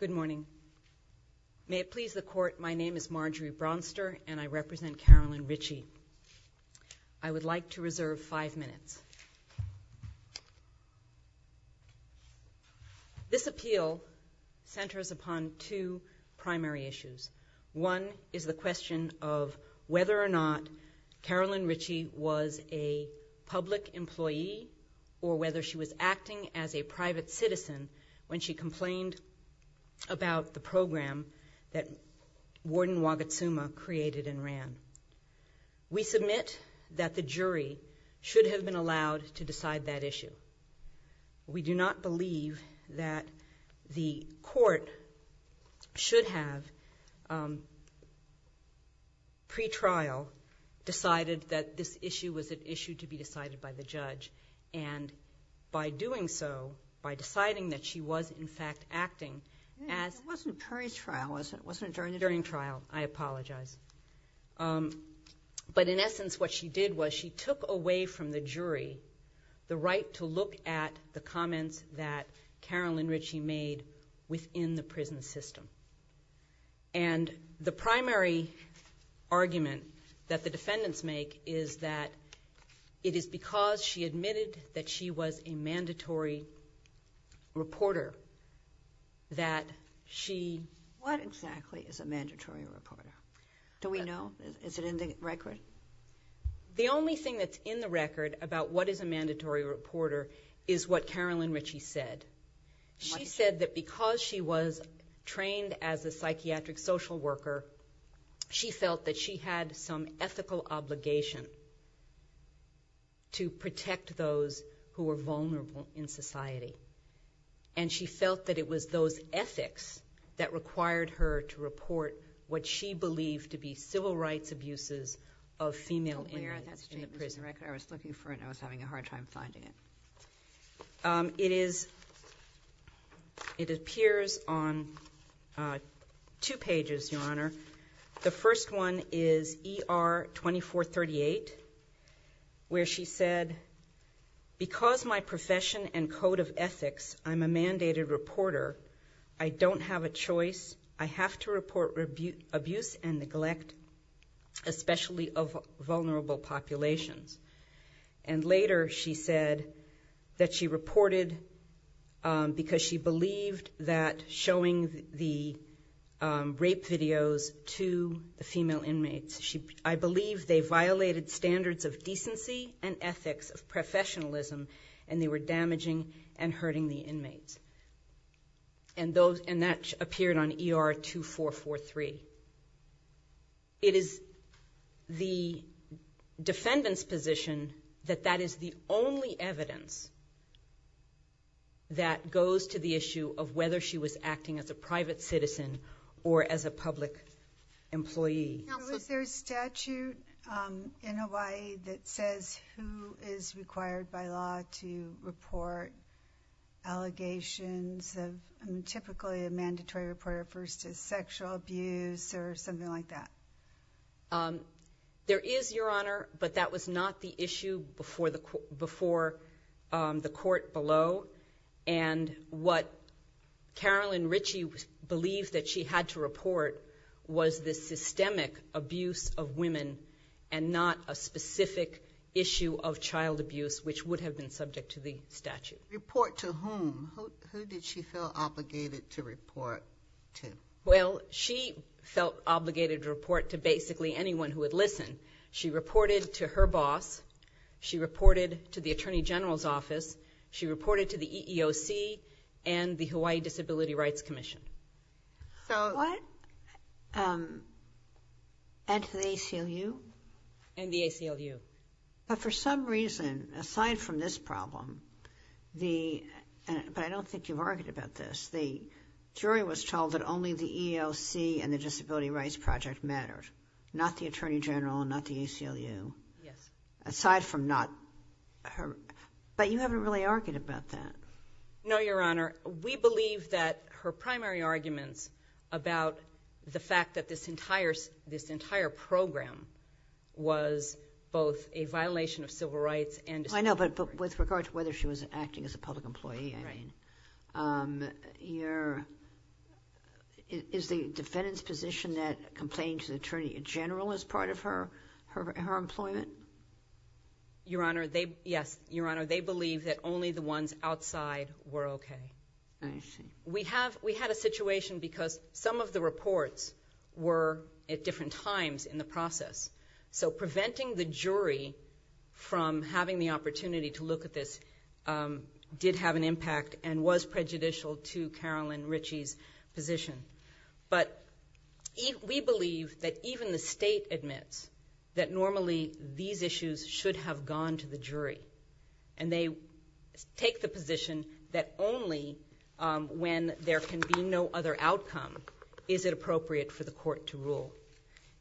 Good morning. May it please the Court, my name is Marjorie Bronster, and I represent Carolyn Ritchie. I would like to reserve five minutes. This appeal centers upon two primary issues. One is the question of whether or not Carolyn Ritchie was a public employee or whether she was acting as a private citizen when she complained about the program that Warden Wagatsuma created and ran. We submit that the jury should have been allowed to decide that issue. We do not believe that the Court should have, pre-trial, decided that this issue was an issue to be decided by the judge, and by doing so, by deciding that she was in fact acting as... It wasn't during trial, was it? It wasn't during trial, I apologize. In essence, what she did was she took away from the jury the right to look at the comments that Carolyn Ritchie made within the prison system. The primary argument that the defendants make is that it is because she admitted that she was a mandatory reporter that she... What exactly is a mandatory reporter? Do we know? Is it in the record? The only thing that's in the record about what is a mandatory reporter is what Carolyn Ritchie said. She said that because she was trained as a psychiatric social worker, she felt that she had some ethical obligation to protect those who were vulnerable in society. She felt that it was those ethics that required her to report what she believed to be civil rights abuses of female inmates in the prison. I was looking for it and I was having a hard time finding it. It appears on two pages, Your Honor. The first one is ER 2438, where she said, because my profession and code of ethics, I'm a mandated reporter, I don't have a choice. I have to report abuse and neglect, especially of vulnerable populations. Later, she said that she reported because she believed that showing the rape videos to the female inmates, I believe they violated standards of decency and ethics of professionalism and they were damaging and hurting the inmates. That appeared on ER 2443. It is the defendant's position that that is the only evidence that goes to the issue of whether she was acting as a private citizen or as a public employee. Now, is there a statute in Hawaii that says who is required by law to report allegations of, typically a mandatory reporter versus sexual abuse or something like that? There is, Your Honor, but that was not the issue before the court below. What Carolyn Ritchie believed that she had to report was the systemic abuse of women and not a specific issue of child abuse, which would have been subject to the statute. Report to whom? Who did she feel obligated to report to? Well, she felt obligated to report to basically anyone who would listen. She reported to her boss. She reported to the Attorney General's Office. She reported to the EEOC and the Hawaii Disability Rights Commission. So... What? And to the ACLU? And the ACLU. But for some reason, aside from this problem, the... but I don't think you've argued about this. The jury was told that only the EEOC and the Disability Rights Project mattered. Not the Attorney General and not the ACLU. Yes. Aside from not her... but you haven't really argued about that. No, Your Honor. We believe that her primary arguments about the fact that this entire program was both a violation of civil rights and... I know, but with regard to whether she was acting as a public employee, I mean, is the defendant's position that complaining to the Attorney General is part of her employment? Your Honor, yes. Your Honor, they believe that only the ones outside were okay. I see. We had a situation because some of the reports were at different times in the process. So having the opportunity to look at this did have an impact and was prejudicial to Carolyn Ritchie's position. But we believe that even the state admits that normally these issues should have gone to the jury. And they take the position that only when there can be no other outcome is it appropriate for the court to rule.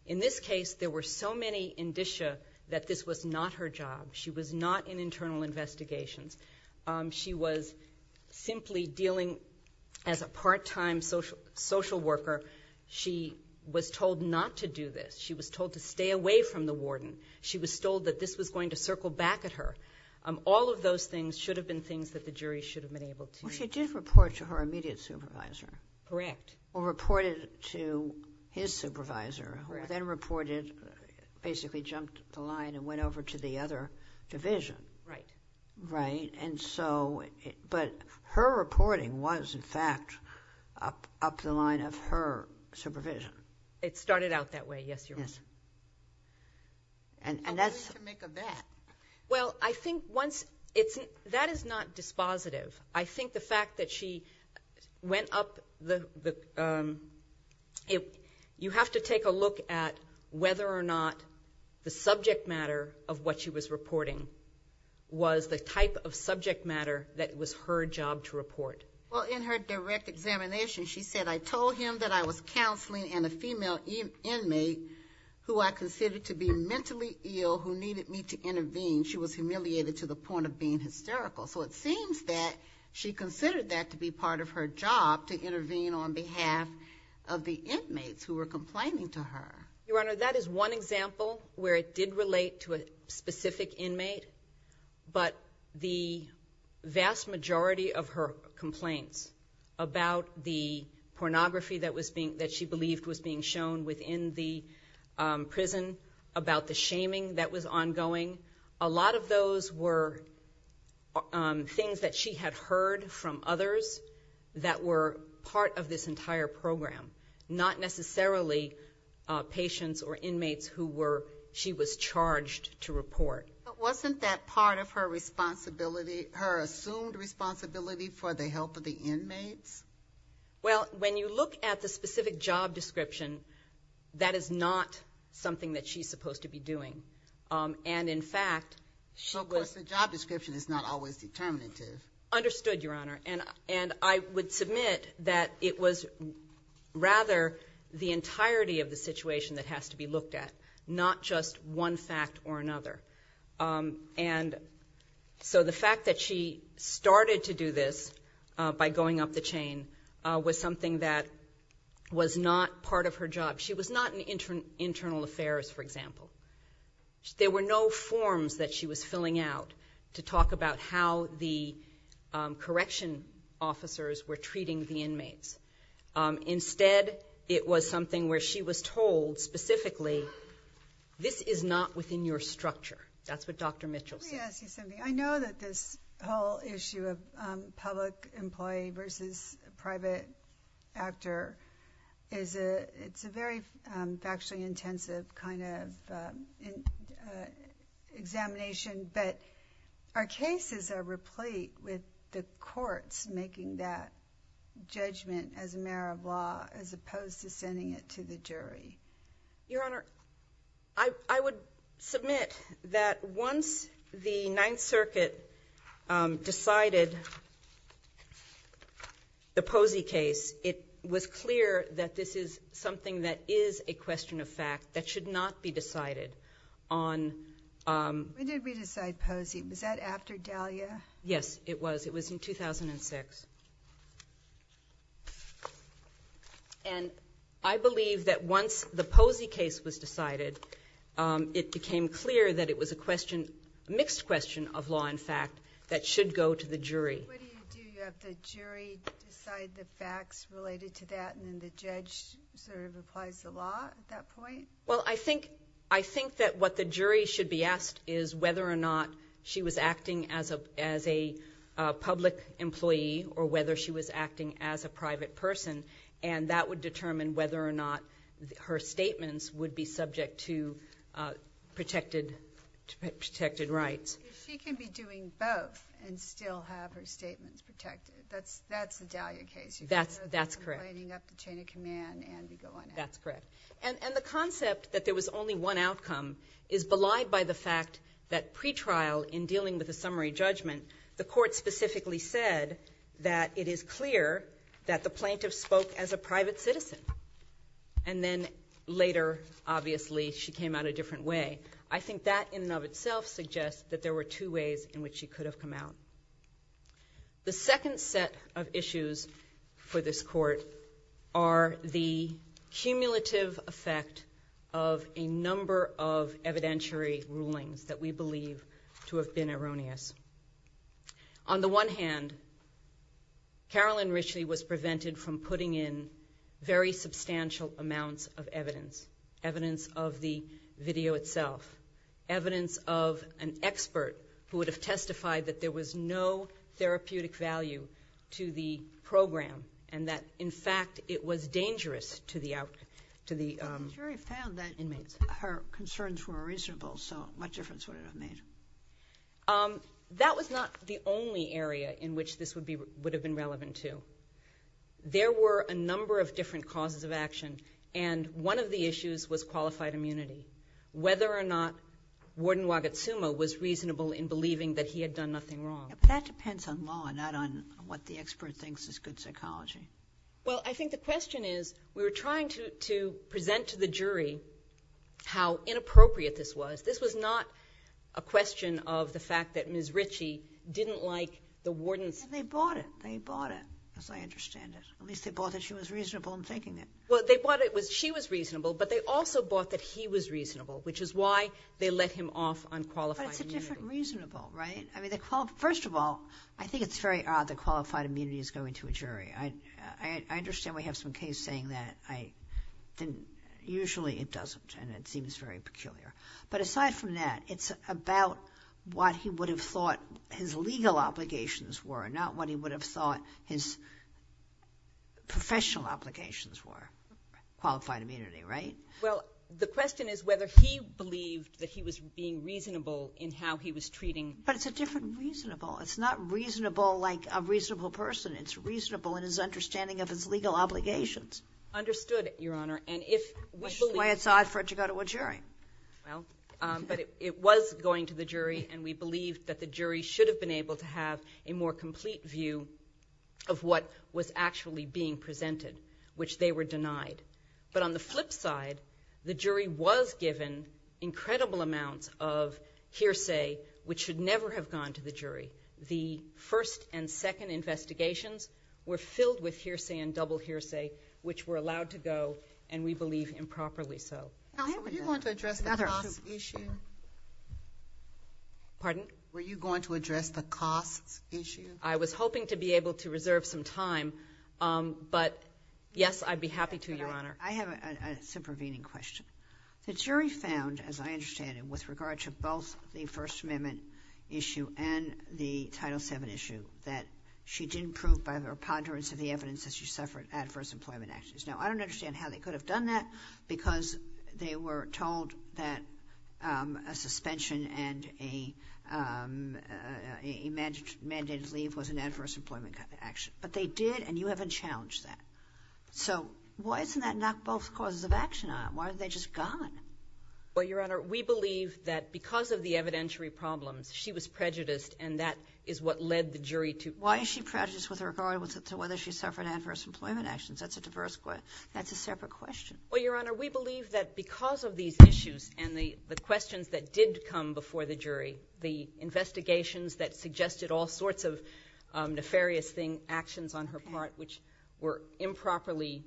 In this case, there were so many indicia that this was not her job. She was not in internal investigations. She was simply dealing as a part-time social worker. She was told not to do this. She was told to stay away from the warden. She was told that this was going to circle back at her. All of those things should have been things that the jury should have been able to... Well, she did report to her immediate supervisor. Correct. Or reported to his supervisor, who then basically jumped the line and went over to the other division. Right. Right. But her reporting was, in fact, up the line of her supervision. It started out that way, yes, Your Honor. Yes. And that's... I wanted to make a bet. Well, I think once... That is not dispositive. I think the fact that she went up the... You have to take a look at whether or not the subject matter of what she was reporting was the type of subject matter that was her job to report. Well, in her direct examination, she said, I told him that I was counseling and a female inmate who I considered to be mentally ill, who needed me to intervene. She was humiliated to the point of being hysterical. So it seems that she considered that to be part of her job to intervene on behalf of the inmates who were complaining to her. Your Honor, that is one example where it did relate to a specific inmate, but the vast majority of her complaints about the pornography that was being... That she believed was being shown within the prison, about the shaming that was ongoing, a lot of those were things that she had heard from others that were part of this entire program, not necessarily patients or inmates who were... She was charged to report. But wasn't that part of her responsibility, her assumed responsibility for the health of the inmates? Well, when you look at the specific job description, that is not something that she's supposed to be doing. And in fact... So of course the job description is not always determinative. Understood, Your Honor. And I would submit that it was rather the entirety of the situation that has to be looked at, not just one fact or another. And so the fact that she started to do this by going up the chain was something that was not part of her job. She was not in internal affairs, for example. There were no forms that she was filling out to talk about how the correction officers were treating the inmates. Instead, it was something where she was told specifically, this is not within your structure. That's what Dr. Mitchell said. Let me ask you something. I know that this whole issue of public employee versus private actor is a very factually intensive kind of examination, but our cases are replete with the courts making that judgment as a matter of law, as opposed to sending it to the jury. Your Honor, I would submit that once the Ninth Circuit decided the Posey case, it was clear that this is something that is a question of fact that should not be decided on... When did we decide Posey? Was that after Dahlia? Yes, it was. It was in 2006. And I believe that once the Posey case was decided, it became clear that it was a mixed question of law and fact that should go to the jury. What do you do? Do you have the jury decide the facts related to that, and then the judge sort of applies the law at that point? Well, I think that what the jury should be asked is whether or not she was acting as a public employee or whether she was acting as a private person, and that would determine whether or not her statements would be subject to protected rights. She can be doing both and still have her statements protected. That's the Dahlia case. That's correct. You're lining up the chain of command and you go on out. That's correct. And the concept that there was only one outcome is belied by the fact that pretrial, in dealing with a summary judgment, the court specifically said that it is clear that the plaintiff spoke as a private citizen. And then later, obviously, she came out a different way. I think that in and of itself suggests that there were two ways in which she could have come out. The second set of issues for this court are the cumulative effect of a number of evidentiary rulings that we believe to have been erroneous. On the one hand, Carolyn Ritchie was prevented from putting in very substantial amounts of evidence, evidence of the video itself, evidence of an expert who would have testified that there was no therapeutic value to the program and that, in fact, it was dangerous to the inmates. The jury found that her concerns were reasonable, so what difference would it have made? That was not the only area in which this would have been relevant to. There were a number of different causes of action, and one of the issues was qualified immunity. Whether or not Warden Wagatsuma was reasonable in believing that he had done nothing wrong. That depends on law, not on what the expert thinks is good psychology. Well, I think the question is, we were trying to present to the jury how inappropriate this was. This was not a question of the fact that Ms. Ritchie didn't like the warden's... They bought it. They bought it, as I understand it. At least they bought that she was reasonable in thinking it. Well, they bought it because she was reasonable, but they also bought that he was reasonable, which is why they let him off on qualified immunity. But it's a different reasonable, right? First of all, I think it's very odd that qualified immunity is going to a jury. I understand we have some case saying that. Usually it doesn't, and it seems very peculiar. But aside from that, it's about what he would have thought his legal obligations were, not what he would have thought his professional obligations were. Qualified immunity, right? Well, the question is whether he believed that he was being reasonable in how he was treating... But it's a different reasonable. It's not reasonable like a reasonable person. It's reasonable in his understanding of his legal obligations. Understood, Your Honor. And if... Which is why it's odd for it to go to a jury. Well, but it was going to the jury, and we believe that the jury should have been able to have a more complete view of what was actually being presented, which they were denied. But on the flip side, the jury was given incredible amounts of hearsay, which should never have gone to the jury. The first and second investigations were filled with hearsay and double hearsay, which were allowed to go, and we believe improperly so. Counsel, were you going to address the cost issue? Pardon? Were you going to address the cost issue? I was hoping to be able to reserve some time, but yes, I'd be happy to, Your Honor. I have a supervening question. The jury found, as I understand it, with regard to both the First Amendment issue and the Title VII issue, that she didn't prove by her ponderance of the evidence that she suffered adverse employment actions. Now, I don't understand how they could have done that, because they were told that a suspension and a mandated leave was an adverse employment action. But they did, and you haven't challenged that. So why isn't that knock both causes of action on them? Why haven't they just gone? Well, Your Honor, we believe that because of the evidentiary problems, she was prejudiced, and that is what led the jury to... Why is she prejudiced with regard to whether she suffered adverse employment actions? That's a diverse question. That's a separate question. Well, Your Honor, we believe that because of these issues and the questions that did come before the jury, the investigations that suggested all sorts of nefarious actions on her part, which were improperly...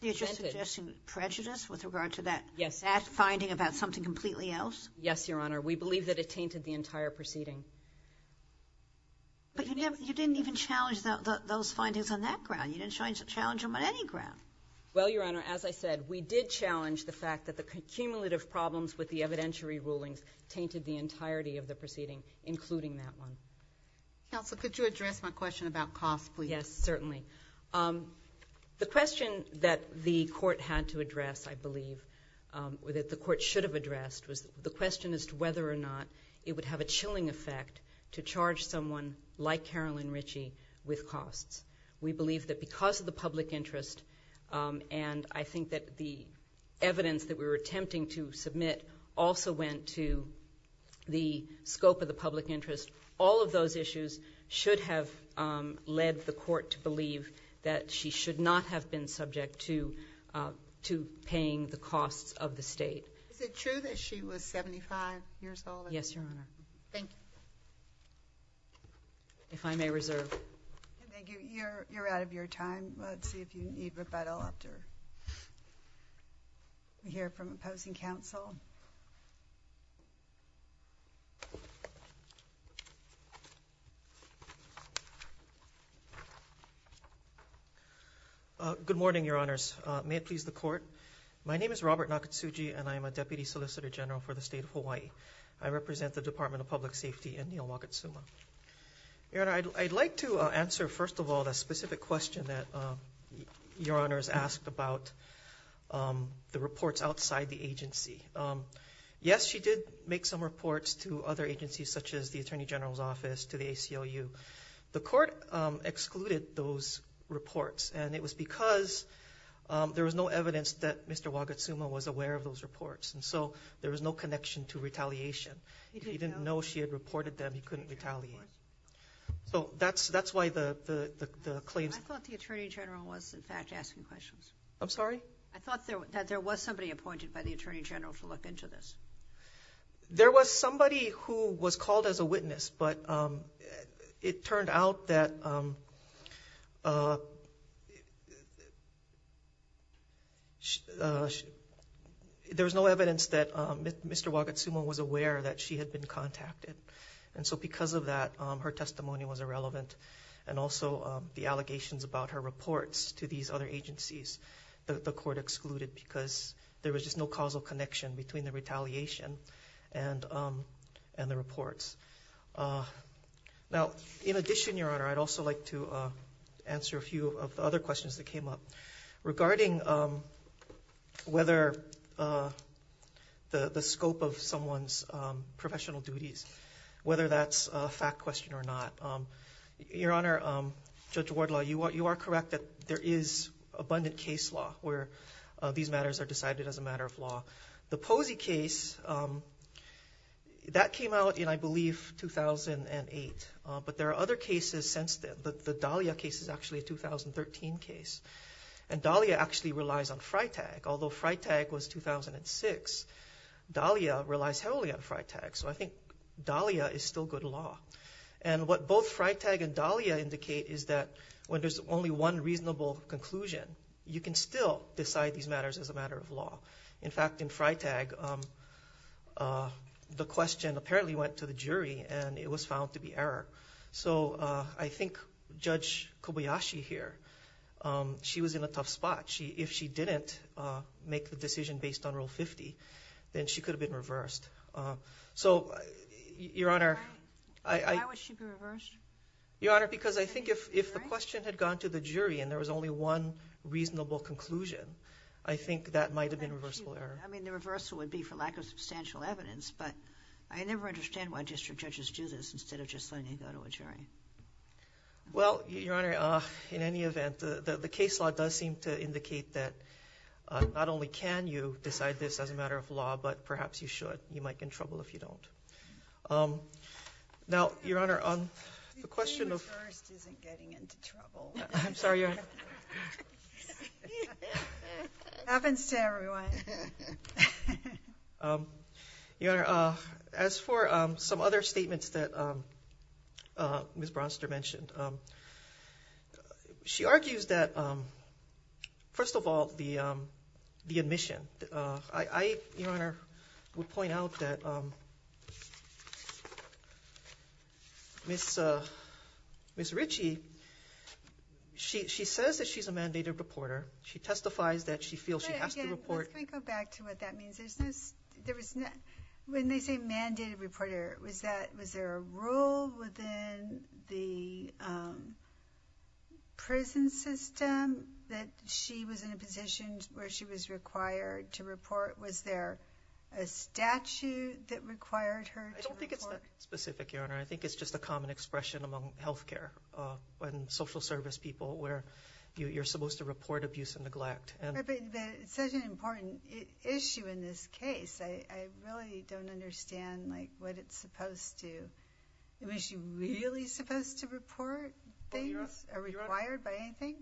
You're just suggesting prejudice with regard to that... Yes.... that finding about something completely else? Yes, Your Honor. We believe that it tainted the entire proceeding. But you didn't even challenge those findings on that ground. You didn't challenge them on any ground. Well, Your Honor, as I said, we did challenge the fact that the cumulative problems with the evidentiary rulings tainted the entirety of the proceeding, including that one. Counsel, could you address my question about cost, please? Yes, certainly. The question that the Court had to address, I believe, or that the Court should have addressed, was the question as to whether or not it would have a chilling effect to charge someone like Carolyn Ritchie with costs. We believe that because of the public interest, and I think that the evidence that we were attempting to submit also went to the scope of the public interest, all of those issues should have led the Court to believe that she should not have been subject to paying the costs of the State. Is it true that she was seventy-five years old? Yes, Your Honor. Thank you. If I may reserve... Thank you. You're out of your time. Let's see if you need rebuttal after you hear from the opposing counsel. Good morning, Your Honors. May it please the Court? My name is Robert Nakatsugi, and I am a Deputy Solicitor General for the State of Hawaii. I represent the Department of Public Safety in Neal Makatsuma. Your Honor, I'd like to answer, first of all, the specific question that Your Honors asked about the reports outside the agency. Yes, she did make some reports to other agencies, such as the Attorney General's Office, to the ACLU. The Court excluded those reports, and it was because there was no evidence that Mr. Wakatsuma was aware of those reports, and so there was no connection to retaliation. He didn't know she had reported them. He couldn't retaliate. So that's why the claims... I thought the Attorney General was, in fact, asking questions. I'm sorry? I thought that there was somebody appointed by the Attorney General to look into this. There was somebody who was called as a witness, but it turned out that there was no evidence that Mr. Wakatsuma was aware that she had been contacted, and so because of that, her testimony was irrelevant. And also, the allegations about her reports to these other agencies, the Court excluded because there was just no causal connection between the retaliation and the reports. Now, in addition, Your Honor, I'd also like to answer a few of the other questions that came up regarding whether the scope of someone's professional duties, whether that's a fact question or not. Your Honor, Judge Wardlaw, you are correct that there is abundant case law where these matters are decided as a matter of law. The Posey case, that came out in, I believe, 2008, but there are other cases since then. The Dahlia case is actually a 2013 case, and Dahlia actually relies on FriTag. Although FriTag was 2006, Dahlia relies heavily on FriTag, so I think Dahlia is still good law. And what both FriTag and Dahlia indicate is that when there's only one reasonable conclusion, you can still decide these matters as a matter of law. In fact, in FriTag, the question apparently went to the jury, and it was found to be error. So I think Judge Kobayashi here, she was in a tough spot. If she didn't make the decision based on Rule 50, then she could have been reversed. So, Your Honor... Why would she be reversed? Your Honor, because I think if the question had gone to the jury and there was only one reasonable conclusion, I think that might have been reversible error. I mean, the reversal would be for lack of substantial evidence, but I never understand why district judges do this instead of just letting it go to a jury. Well, Your Honor, in any event, the case law does seem to indicate that not only can you decide this as a matter of law, but perhaps you should. You might get in trouble if you don't. Now, Your Honor, on the question of... The jury at first isn't getting into trouble. I'm sorry, Your Honor. Happens to everyone. Your Honor, as for some other statements that Ms. Bronster mentioned, she argues that, first of all, the admission... I, Your Honor, would point out that Ms. Ritchie, she says that she's a mandated reporter. She testifies that she feels she has to report... But, again, let me go back to what that means. When they say mandated reporter, was there a rule within the prison system that she was in a position where she was required to report? Was there a statute that required her to report? I don't think it's that specific, Your Honor. I think it's just a common expression among health care and social service people where you're supposed to report abuse and neglect. But it's such an important issue in this case. I really don't understand what it's supposed to... Was she really supposed to report things or required by anything?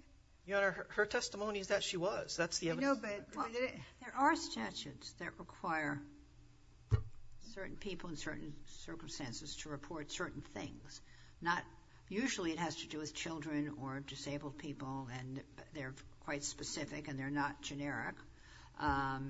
Your Honor, her testimony is that she was. That's the other... You know, but... There are statutes that require certain people in certain circumstances to report certain things. Usually, it has to do with children or disabled people, and they're quite specific and they're not generic. More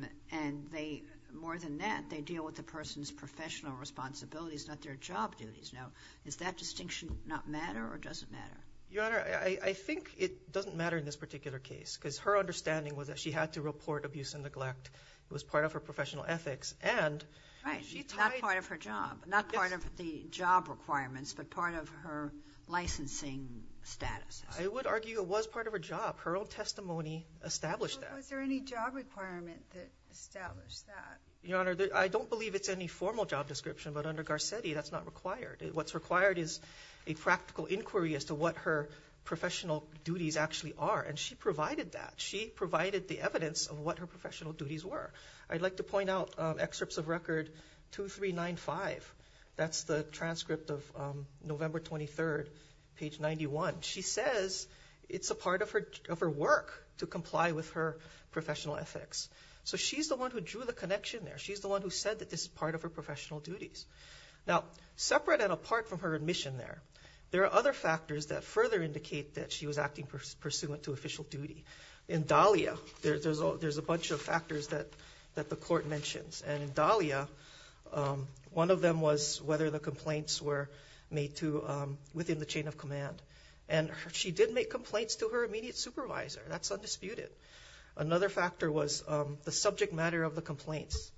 than that, they deal with the person's professional responsibilities, not their job duties. Now, does that distinction not matter or does it matter? Your Honor, I think it doesn't matter in this particular case, because her understanding was that she had to report abuse and neglect. It was part of her professional ethics, and... Right. Not part of her job. Not part of the job requirements, but part of her licensing status. I would argue it was part of her job. Her own testimony established that. Was there any job requirement that established that? Your Honor, I don't believe it's any formal job description, but under Garcetti, that's not required. What's required is a practical inquiry as to what her professional duties actually are, and she provided that. She provided the evidence of what her professional duties were. I'd like to point out excerpts of Record 2395. That's the transcript of November 23rd, page 91. She says it's a part of her work to comply with her professional ethics. She's the one who drew the connection there. She's the one who said that this is part of her professional duties. Now, separate and apart from her admission there, there are other factors that further indicate that she was acting pursuant to official duty. In Dahlia, there's a bunch of factors that the Court mentions, and in Dahlia, one of them was whether the complaints were made to... within the chain of command, and she did make complaints to her immediate supervisor. That's undisputed. Another factor was the subject matter of the complaints.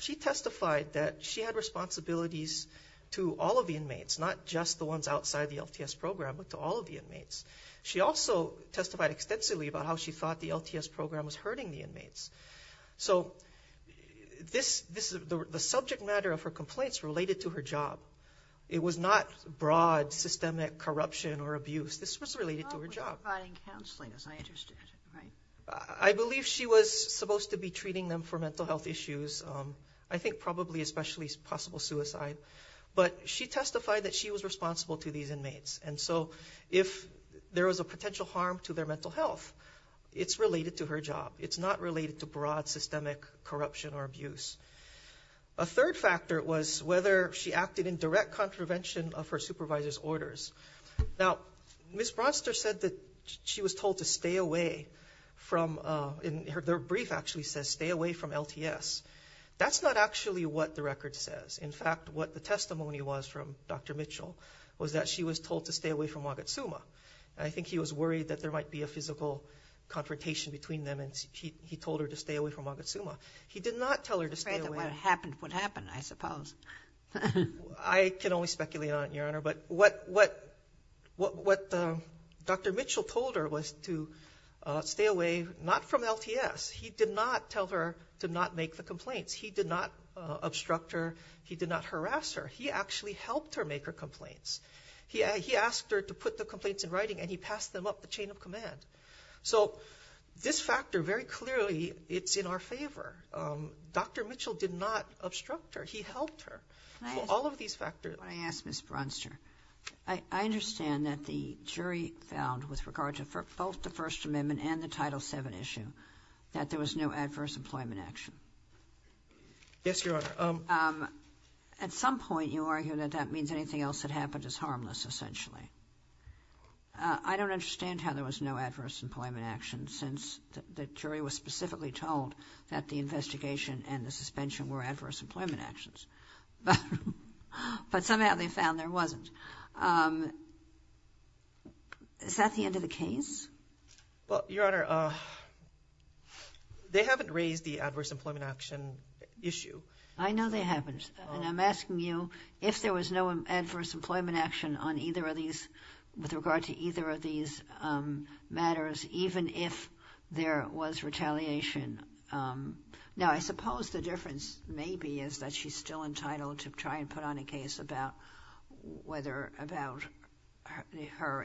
She testified that she had responsibilities to all of the inmates, not just the ones outside the LTS program, but to all of the inmates. She also testified extensively about how she thought the LTS program was hurting the inmates. So, the subject matter of her complaints related to her job. It was not broad, systemic corruption or abuse. This was related to her job. Providing counseling, as I understood it. I believe she was supposed to be treating them for mental health issues, I think probably especially possible suicide, but she testified that she was responsible to these inmates, and so if there was a potential harm to their mental health, it's related to her job. It's not related to broad, systemic corruption or abuse. A third factor was whether she acted in direct contravention of her supervisor's orders. Now, Ms. Bronster said that she was told to stay away from, in her brief actually says stay away from LTS. That's not actually what the record says. In fact, what the testimony was from Dr. Mitchell was that she was told to stay away from Wakatsuma. I think he was worried that there might be a physical confrontation between them, and he told her to stay away from Wakatsuma. He did not tell her to stay away. I can only speculate on it, Your Honor, but what Dr. Mitchell told her was to stay away, not from LTS. He did not tell her to not make the complaints. He did not obstruct her. He did not harass her. He actually helped her make her complaints. He asked her to put the complaints in writing, and he passed them up the chain of command. So, this factor, very clearly, it's in our favor. Dr. Mitchell did not obstruct her. He helped her. All of these factors. I ask Ms. Bronster, I understand that the jury found, with regard to both the First Amendment and the Title VII issue, that there was no adverse employment action. Yes, Your Honor. At some point, you argue that that means anything else that happened is harmless, essentially. I don't understand how there was no adverse employment action, since the jury was specifically told that the investigation and the suspension were adverse employment actions, but somehow they found there wasn't. Is that the end of the case? Well, Your Honor, they haven't raised the adverse employment action issue. I know they haven't, and I'm asking you, if there was no adverse employment action on either of these, with regard to either of these matters, even if there was retaliation. Now, I suppose the difference, maybe, is that she's still entitled to try and put on a case about whether, about her,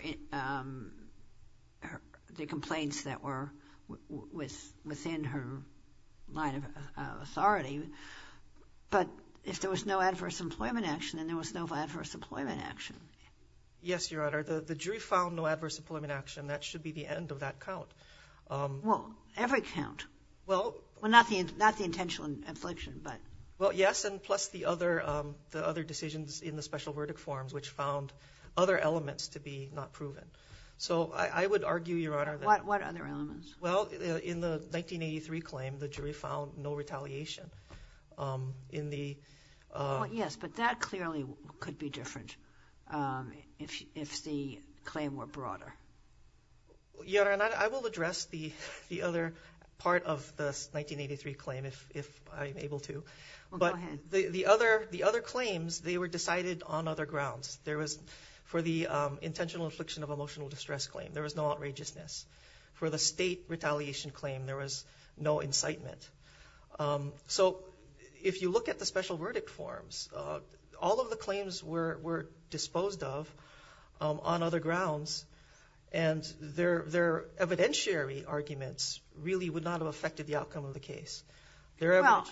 the complaints that were within her line of authority, but if there was no adverse employment action, then there was no adverse employment action. Yes, Your Honor. The jury found no adverse employment action. That should be the end of that count. Well, every count. Well, yes, and plus the other decisions in the special verdict forms, which found other elements to be not proven. So, I would argue, Your Honor, that... What other elements? Well, in the 1983 claim, the jury found no retaliation. Yes, but that clearly could be different, if the claim were broader. Your Honor, I will address the other part of the 1983 claim, if I'm able to, but the other claims, they were decided on other grounds. There was, for the intentional infliction of emotional distress claim, there was no outrageousness. For the state retaliation claim, there was no incitement. So, if you look at the special verdict forms, all of the claims were disposed of on other grounds, and their evidentiary arguments really would not have affected the outcome of the case. Well,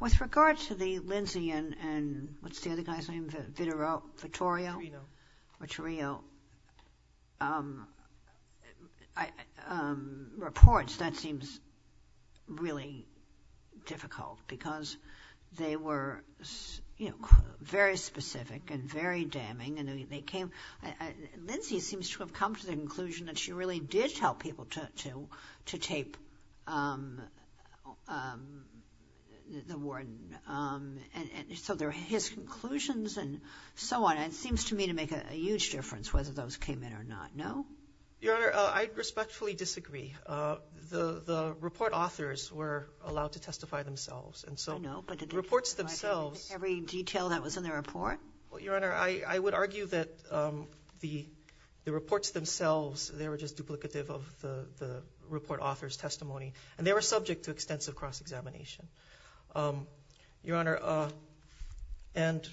with regard to the Lindsay and, what's the other guy's name? Vittorio? Vittorio. Vittorio. Reports, that seems really difficult, because they were, you know, very specific and very damning, and they came... Lindsay seems to have come to the conclusion that she really did tell people to tape the warden, and so there were his conclusions and so on, and it seems to me to make a huge difference whether those came in or not, no? Your Honor, I respectfully disagree. The report authors were allowed to testify themselves, and so the reports themselves... Every detail that was in the report? Well, Your Honor, I would argue that the reports themselves, they were just duplicative of the report authors' testimony, and they were subject to extensive cross-examination. Your Honor, and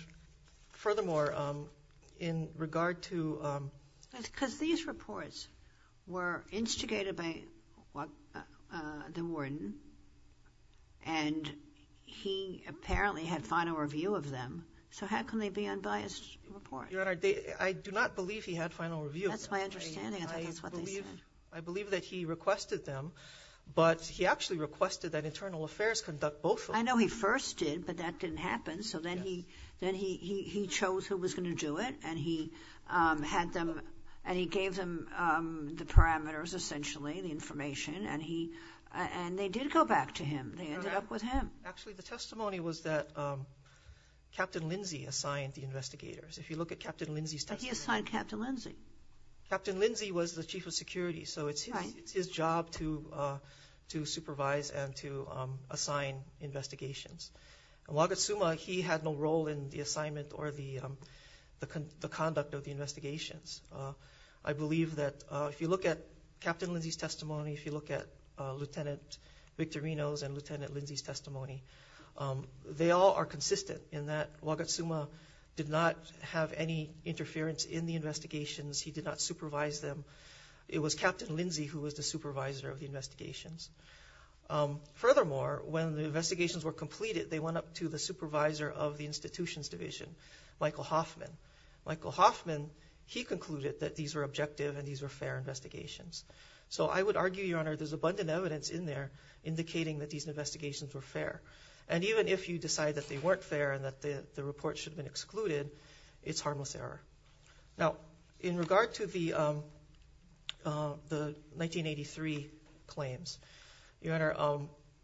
furthermore, in regard to... Because these reports were instigated by the warden, and he apparently had final review of them, so how can they be unbiased reports? Your Honor, I do not believe he had final review of them. That's my understanding. I thought that's what they said. I believe that he requested them, but he actually requested that Internal Affairs conduct both of them. I know he first did, but that didn't happen, so then he chose who was going to do it, and he had them, and he gave them the parameters, essentially, the information, and they did go back to him. They ended up with him. Actually, the testimony was that Captain Lindsay assigned the investigators. If you look at Captain Lindsay's testimony... But he assigned Captain Lindsay. Captain Lindsay was the Chief of Security, so it's his job to supervise and to assign investigations. And Wagatsuma, he had no role in the assignment or the conduct of the investigations. I believe that if you look at Captain Lindsay's testimony, if you look at Lieutenant Victorino's testimony, and Lieutenant Lindsay's testimony, they all are consistent in that Wagatsuma did not have any interference in the investigations. He did not supervise them. It was Captain Lindsay who was the supervisor of the investigations. Furthermore, when the investigations were completed, they went up to the supervisor of the Institutions Division, Michael Hoffman. Michael Hoffman, he concluded that these were objective and these were fair investigations. So I would argue, Your Honor, there's abundant evidence in there indicating that these investigations were fair. And even if you decide that they weren't fair and that the report should have been excluded, it's harmless error. Now, in regard to the 1983 claims, Your Honor,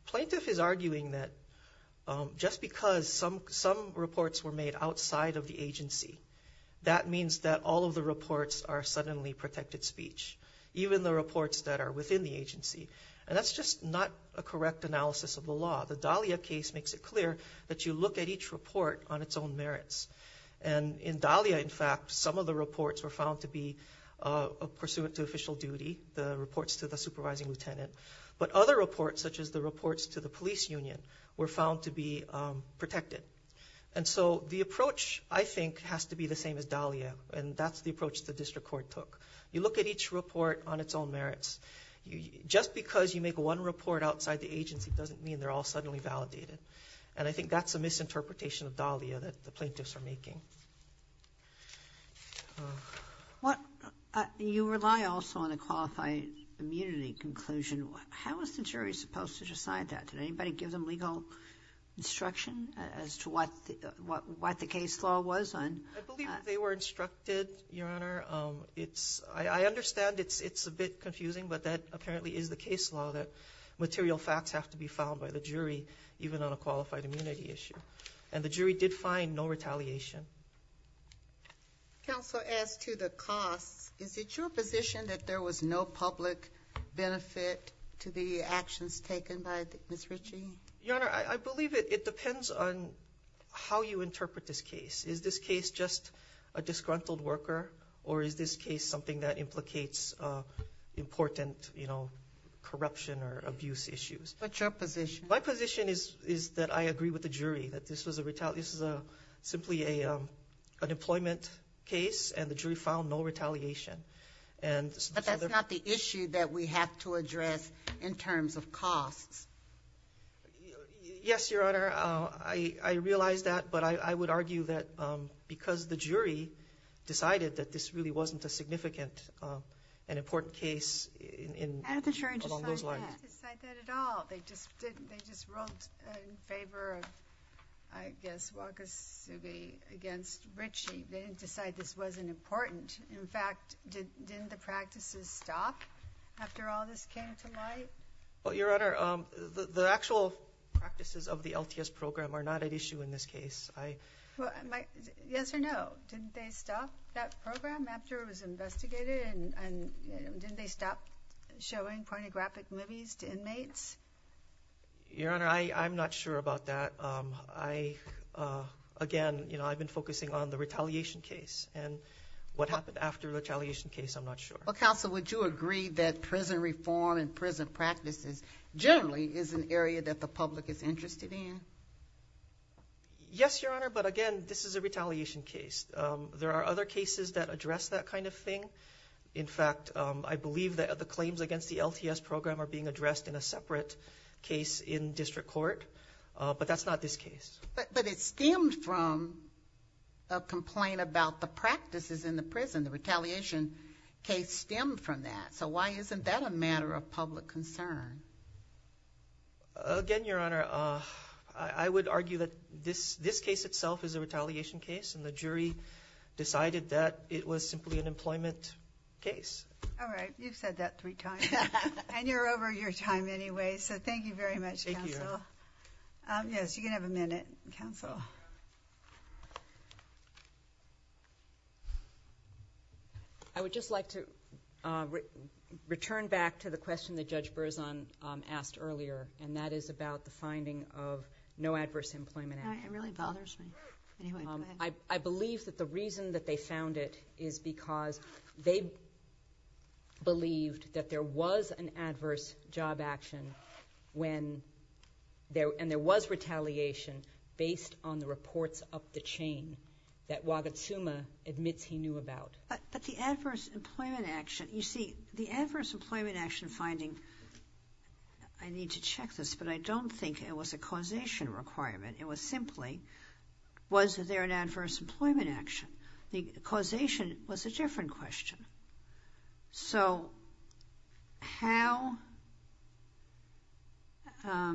plaintiff is arguing that just because some reports were made outside of the agency, that means that all of the reports are suddenly protected speech, even the reports that are within the agency. And that's just not a correct analysis of the law. The Dahlia case makes it clear that you look at each report on its own merits. And in Dahlia, in fact, some of the reports were found to be pursuant to official duty, the reports to the supervising lieutenant. But other reports, such as the reports to the police union, were found to be protected. And so the approach, I think, has to be the same as Dahlia, and that's the approach the You look at each report on its own merits. Just because you make one report outside the agency doesn't mean they're all suddenly validated. And I think that's a misinterpretation of Dahlia that the plaintiffs are making. You rely also on a qualified immunity conclusion. How was the jury supposed to decide that? Did anybody give them legal instruction as to what the case law was? I believe they were instructed, Your Honor. I understand it's a bit confusing, but that apparently is the case law, that material facts have to be filed by the jury, even on a qualified immunity issue. And the jury did find no retaliation. Counsel, as to the costs, is it your position that there was no public benefit to the actions taken by Ms. Ritchie? Your Honor, I believe it depends on how you interpret this case. Is this case just a disgruntled worker, or is this case something that implicates important, you know, corruption or abuse issues? What's your position? My position is that I agree with the jury, that this was a retaliation. This is simply an employment case, and the jury found no retaliation. But that's not the issue that we have to address in terms of costs. Yes, Your Honor. I realize that, but I would argue that because the jury decided that this really wasn't a significant and important case along those lines. How did the jury decide that? They didn't decide that at all. They just wrote in favor of, I guess, Wakasugi against Ritchie. They didn't decide this wasn't important. In fact, didn't the practices stop after all this came to light? Well, Your Honor, the actual practices of the LTS program are not at issue in this case. Yes or no? Didn't they stop that program after it was investigated? And didn't they stop showing pornographic movies to inmates? Your Honor, I'm not sure about that. Again, I've been focusing on the retaliation case and what happened after the retaliation case. I'm not sure. Well, Counsel, would you agree that prison reform and prison practices generally is an area that the public is interested in? Yes, Your Honor, but again, this is a retaliation case. There are other cases that address that kind of thing. In fact, I believe that the claims against the LTS program are being addressed in a separate case in district court, but that's not this case. But it stemmed from a complaint about the practices in the prison. The retaliation case stemmed from that. So why isn't that a matter of public concern? Again, Your Honor, I would argue that this case itself is a retaliation case and the jury decided that it was simply an employment case. All right. You've said that three times, and you're over your time anyway. So thank you very much, Counsel. Thank you, Your Honor. Yes, you can have a minute, Counsel. I would just like to return back to the question that Judge Berzon asked earlier, and that is about the finding of no adverse employment act. It really bothers me. Anyway, go ahead. I believe that the reason that they found it is because they believed that there was an adverse job action, and there was retaliation based on the reports up the chain that Wagatsuma admits he knew about. But the adverse employment action, you see, the adverse employment action finding, I need to check this, but I don't think it was a causation requirement. It was simply was there an adverse employment action. The causation was a different question. So how, let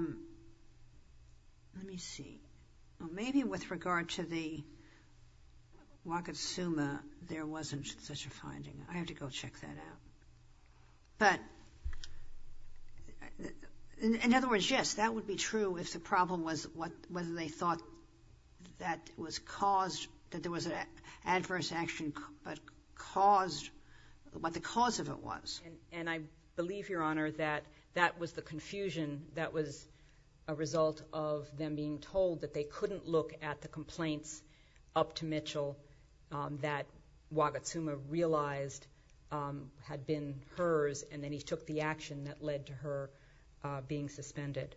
me see. Maybe with regard to the Wagatsuma, there wasn't such a finding. I have to go check that out. But in other words, yes, that would be true if the problem was whether they thought that it was caused, that there was an adverse action, but caused, what the cause of it was. And I believe, Your Honor, that that was the confusion that was a result of them being told that they couldn't look at the complaints up to Mitchell that Wagatsuma realized had been hers, and then he took the action that led to her being suspended.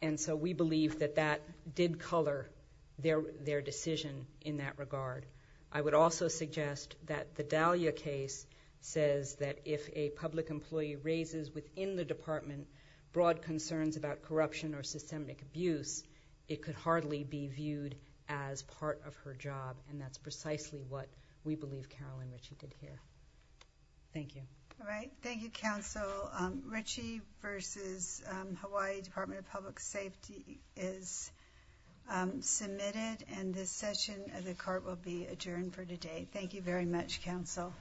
And so we believe that that did color their decision in that regard. I would also suggest that the Dahlia case says that if a public employee raises within the department broad concerns about corruption or systemic abuse, it could hardly be viewed as part of her job, and that's precisely what we believe, Carolyn, that she did here. Thank you. All right. Thank you, Counsel. Ritchie v. Hawaii Department of Public Safety is submitted, and this session of the Court will be adjourned for today. Thank you very much, Counsel.